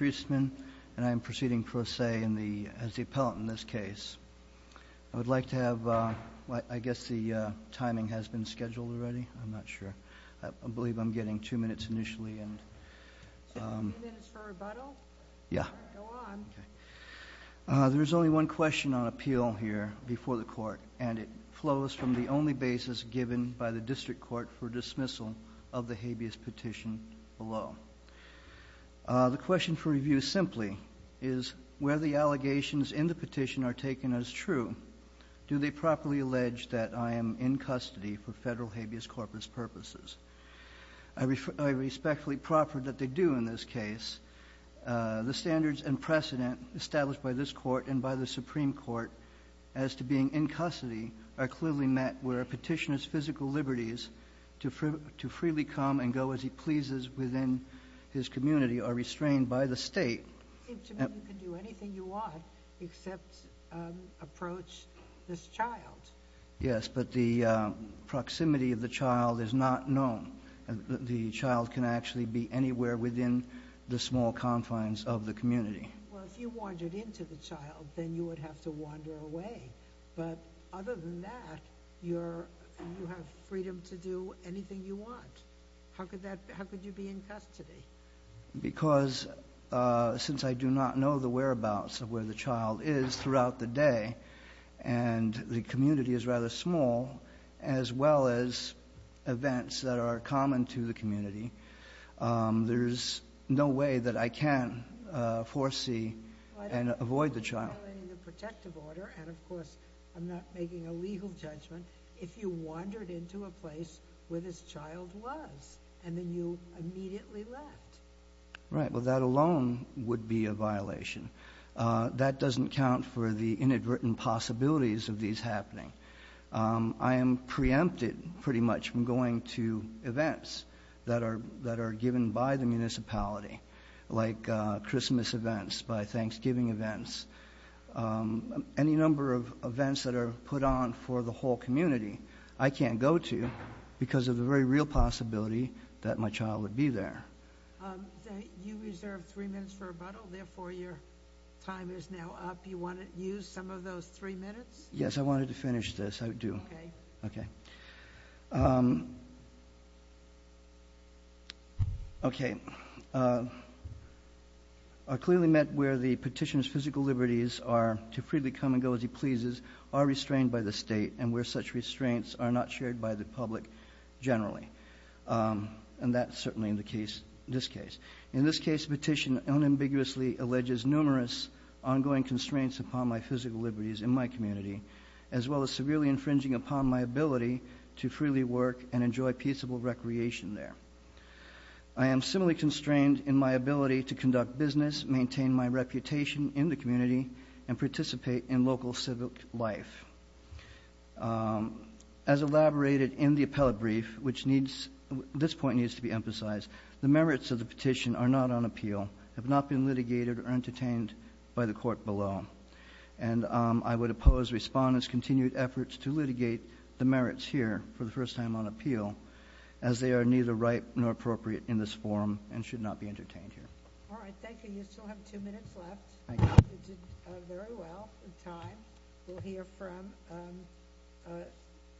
and I am proceeding for a say as the appellant in this case. I would like to have, I guess the timing has been scheduled already, I'm not sure, I believe I'm getting two minutes initially. Two minutes for rebuttal? Yeah. Go on. There is only one question on appeal here before the court and it flows from the only basis given by the district court for dismissal of the habeas petition below. The question for review simply is where the allegations in the petition are taken as true, do they properly allege that I am in custody for federal habeas corpus purposes? I respectfully proffer that they do in this case. The standards and precedent established by this court and by the Supreme Court as to being in custody are clearly met where a petitioner's physical It seems to me you can do anything you want except approach this child. Yes, but the proximity of the child is not known. The child can actually be anywhere within the small confines of the community. Well, if you wandered into the child, then you would have to wander away. But other than that, you have freedom to do anything you want. How could you be in custody? Because since I do not know the whereabouts of where the child is throughout the day and the community is rather small as well as events that are common to the community, there's no way that I can foresee and avoid the child. I don't think you're violating the protective order and of course I'm not making a legal judgment if you wandered into a place where this child was and then you immediately left. Right, well that alone would be a violation. That doesn't count for the inadvertent possibilities of these happening. I am preempted pretty much from going to events that are given by the municipality, like Christmas events, by Thanksgiving events, any number of events that are put on for the whole community, I can't go to because of the very real possibility that my child would be there. You reserved three minutes for rebuttal, therefore your time is now up. You want to use some of those three minutes? Yes, I wanted to finish this, I do. Okay. Okay. I clearly meant where the petitioner's physical liberties are to freely come and as he pleases, are restrained by the state and where such restraints are not shared by the public generally. And that's certainly in this case. In this case, the petition unambiguously alleges numerous ongoing constraints upon my physical liberties in my community as well as severely infringing upon my ability to freely work and enjoy peaceable recreation there. I am similarly constrained in my ability to conduct business, maintain my reputation in the community, and participate in local civic life. As elaborated in the appellate brief, which needs, this point needs to be emphasized, the merits of the petition are not on appeal, have not been litigated or entertained by the court below. And I would oppose respondents' continued efforts to litigate the merits here for the first time on appeal as they are neither right nor appropriate in this forum and should not be entertained here. All right. Thank you. You still have two minutes left. Thank you. You did very well in time. We'll hear from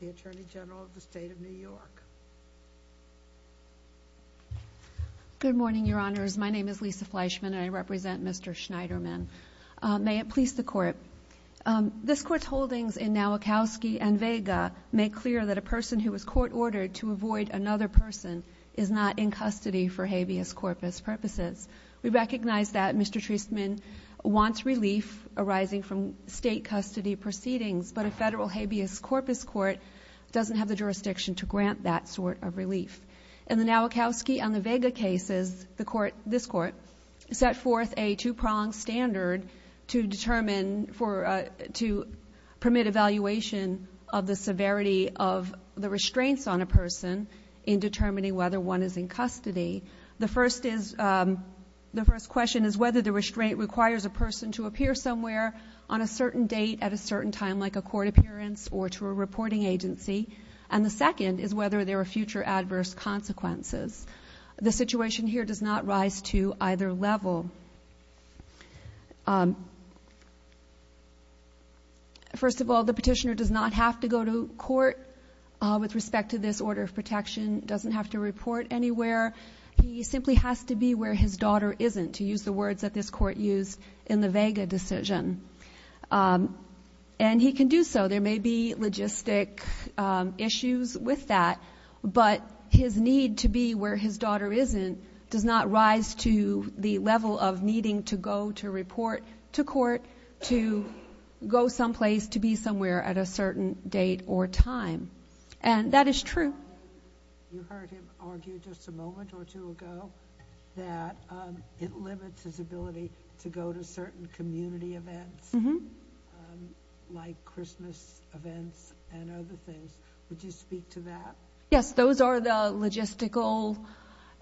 the Attorney General of the State of New York. Good morning, Your Honors. My name is Lisa Fleischman and I represent Mr. Schneiderman. May it please the Court. This Court's holdings in Nowakowski and Vega make clear that a person who was court-ordered to avoid another person is not in custody for habeas corpus purposes. We recognize that Mr. Treisman wants relief arising from State custody proceedings, but a federal habeas corpus court doesn't have the jurisdiction to grant that sort of relief. In the Nowakowski and the Vega cases, this Court set forth a two-pronged standard to permit evaluation of the severity of the restraints on a person in determining whether one is in custody. The first question is whether the restraint requires a person to appear somewhere on a certain date at a certain time, like a court appearance or to a reporting agency. And the second is whether there are future adverse consequences. The situation here does not rise to either level. First of all, the petitioner does not have to go to court with respect to this order of protection, doesn't have to report anywhere. He simply has to be where his daughter isn't, to use the words that this Court used in the Vega decision. And he can do so. There may be logistic issues with that, but his need to be where his daughter isn't does not rise to the level of needing to go to report to court, to go someplace, to be somewhere at a certain date or time. And that is true. You heard him argue just a moment or two ago that it limits his ability to go to certain community events, like Christmas events and other things. Would you speak to that? Yes, those are the logistical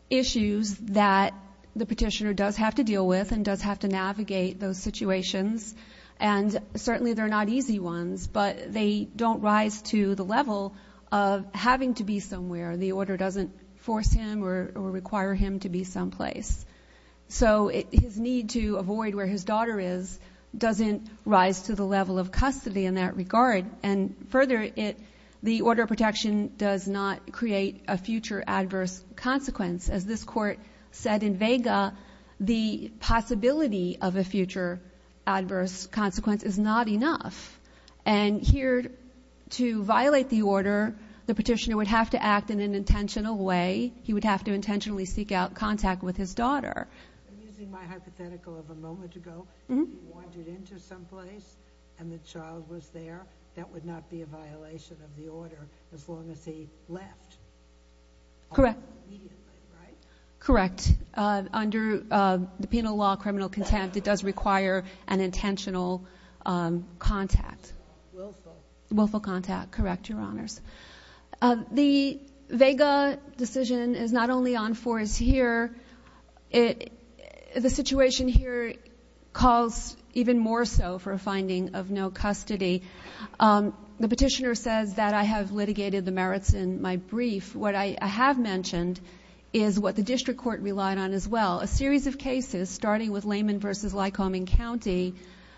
issues that the petitioner does have to deal with and does have to navigate those situations. And certainly they're not easy ones, but they don't rise to the level of having to be somewhere. The order doesn't force him or require him to be someplace. So his need to avoid where his daughter is doesn't rise to the level of custody in that regard. And further, the order of protection does not create a future adverse consequence. As this Court said in Vega, the possibility of a future adverse consequence is not enough. And here, to violate the order, the petitioner would have to act in an intentional way. He would have to intentionally seek out contact with his daughter. I'm using my hypothetical of a moment ago. If he wandered into someplace and the child was there, that would not be a violation of the order as long as he left. Correct. Correct. Under the penal law, criminal contempt, it does require an intentional contact. Willful contact. Correct, Your Honors. The Vega decision is not only on force here. The situation here calls even more so for a finding of no custody. The petitioner says that I have litigated the merits in my brief. What I have mentioned is what the district court relied on as well. A series of cases, starting with Layman v. Lycoming County,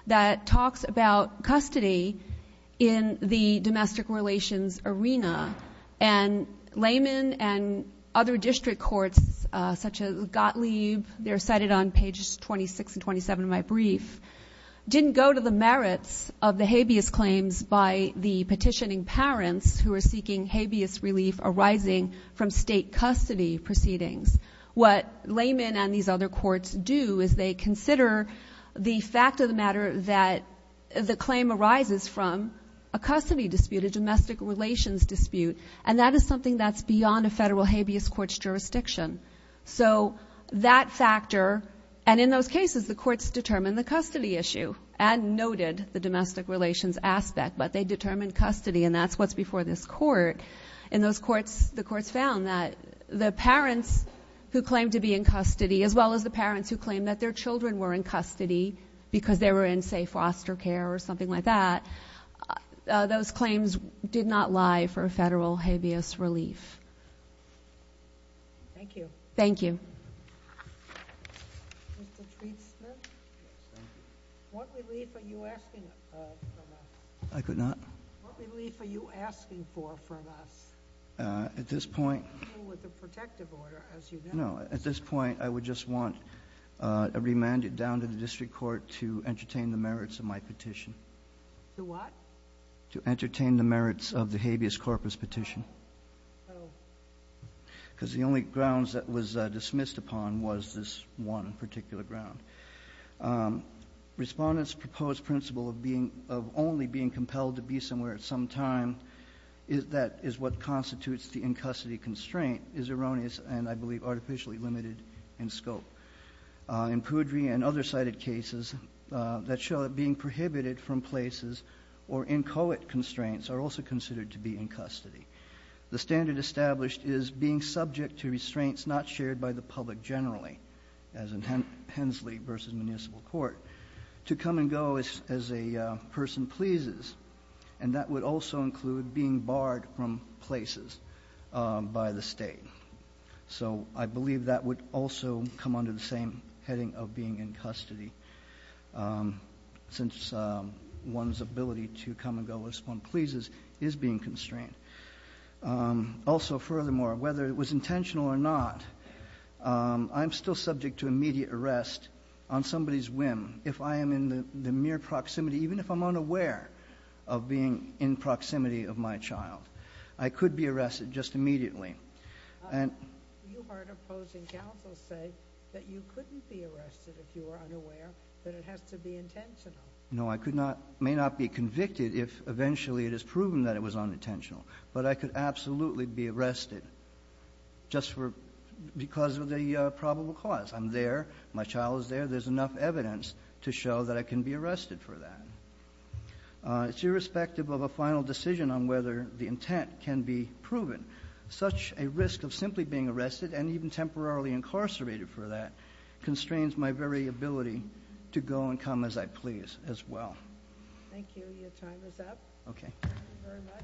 that talks about custody in the domestic relations arena. And Layman and other district courts, such as Gottlieb, they're cited on pages 26 and 27 of my brief, didn't go to the merits of the habeas claims by the petitioning parents who are seeking habeas relief arising from state custody proceedings. What Layman and these other courts do is they consider the fact of the matter that the claim arises from a custody dispute, a domestic relations dispute, and that is something that's beyond a federal habeas court's jurisdiction. So that factor, and in those cases, the courts determined the custody issue and noted the domestic relations aspect, but they determined custody, and that's what's before this court. And the courts found that the parents who claimed to be in custody, as well as the parents who claimed that their children were in custody because they were in, say, foster care or something like that, those claims did not lie for federal habeas relief. Thank you. Thank you. Mr. Treatsmith? Yes, thank you. What relief are you asking for from us? I could not. What relief are you asking for from us? At this point. With the protective order, as you know. No, at this point, I would just want a remand down to the district court to entertain the merits of my petition. To what? To entertain the merits of the habeas corpus petition. Oh. Because the only grounds that was dismissed upon was this one particular ground. Respondents' proposed principle of only being compelled to be somewhere at some time, that is what constitutes the in-custody constraint, is erroneous and, I believe, artificially limited in scope. In Poudry and other cited cases that show that being prohibited from places or inchoate constraints are also considered to be in custody. The standard established is being subject to restraints not shared by the public generally, as in Hensley v. Municipal Court, to come and go as a person pleases, and that would also include being barred from places by the state. So I believe that would also come under the same heading of being in custody, since one's ability to come and go as one pleases is being constrained. Also, furthermore, whether it was intentional or not, I'm still subject to immediate arrest on somebody's whim. If I am in the mere proximity, even if I'm unaware of being in proximity of my child, I could be arrested just immediately. And you heard opposing counsel say that you couldn't be arrested if you were unaware, that it has to be intentional. No, I could not, may not be convicted if eventually it is proven that it was unintentional, but I could absolutely be arrested just for, because of the probable cause. I'm there. My child is there. There's enough evidence to show that I can be arrested for that. It's irrespective of a final decision on whether the intent can be proven. Such a risk of simply being arrested and even temporarily incarcerated for that constrains my very ability to go and come as I please as well. Thank you. Your time is up. Okay. Thank you very much.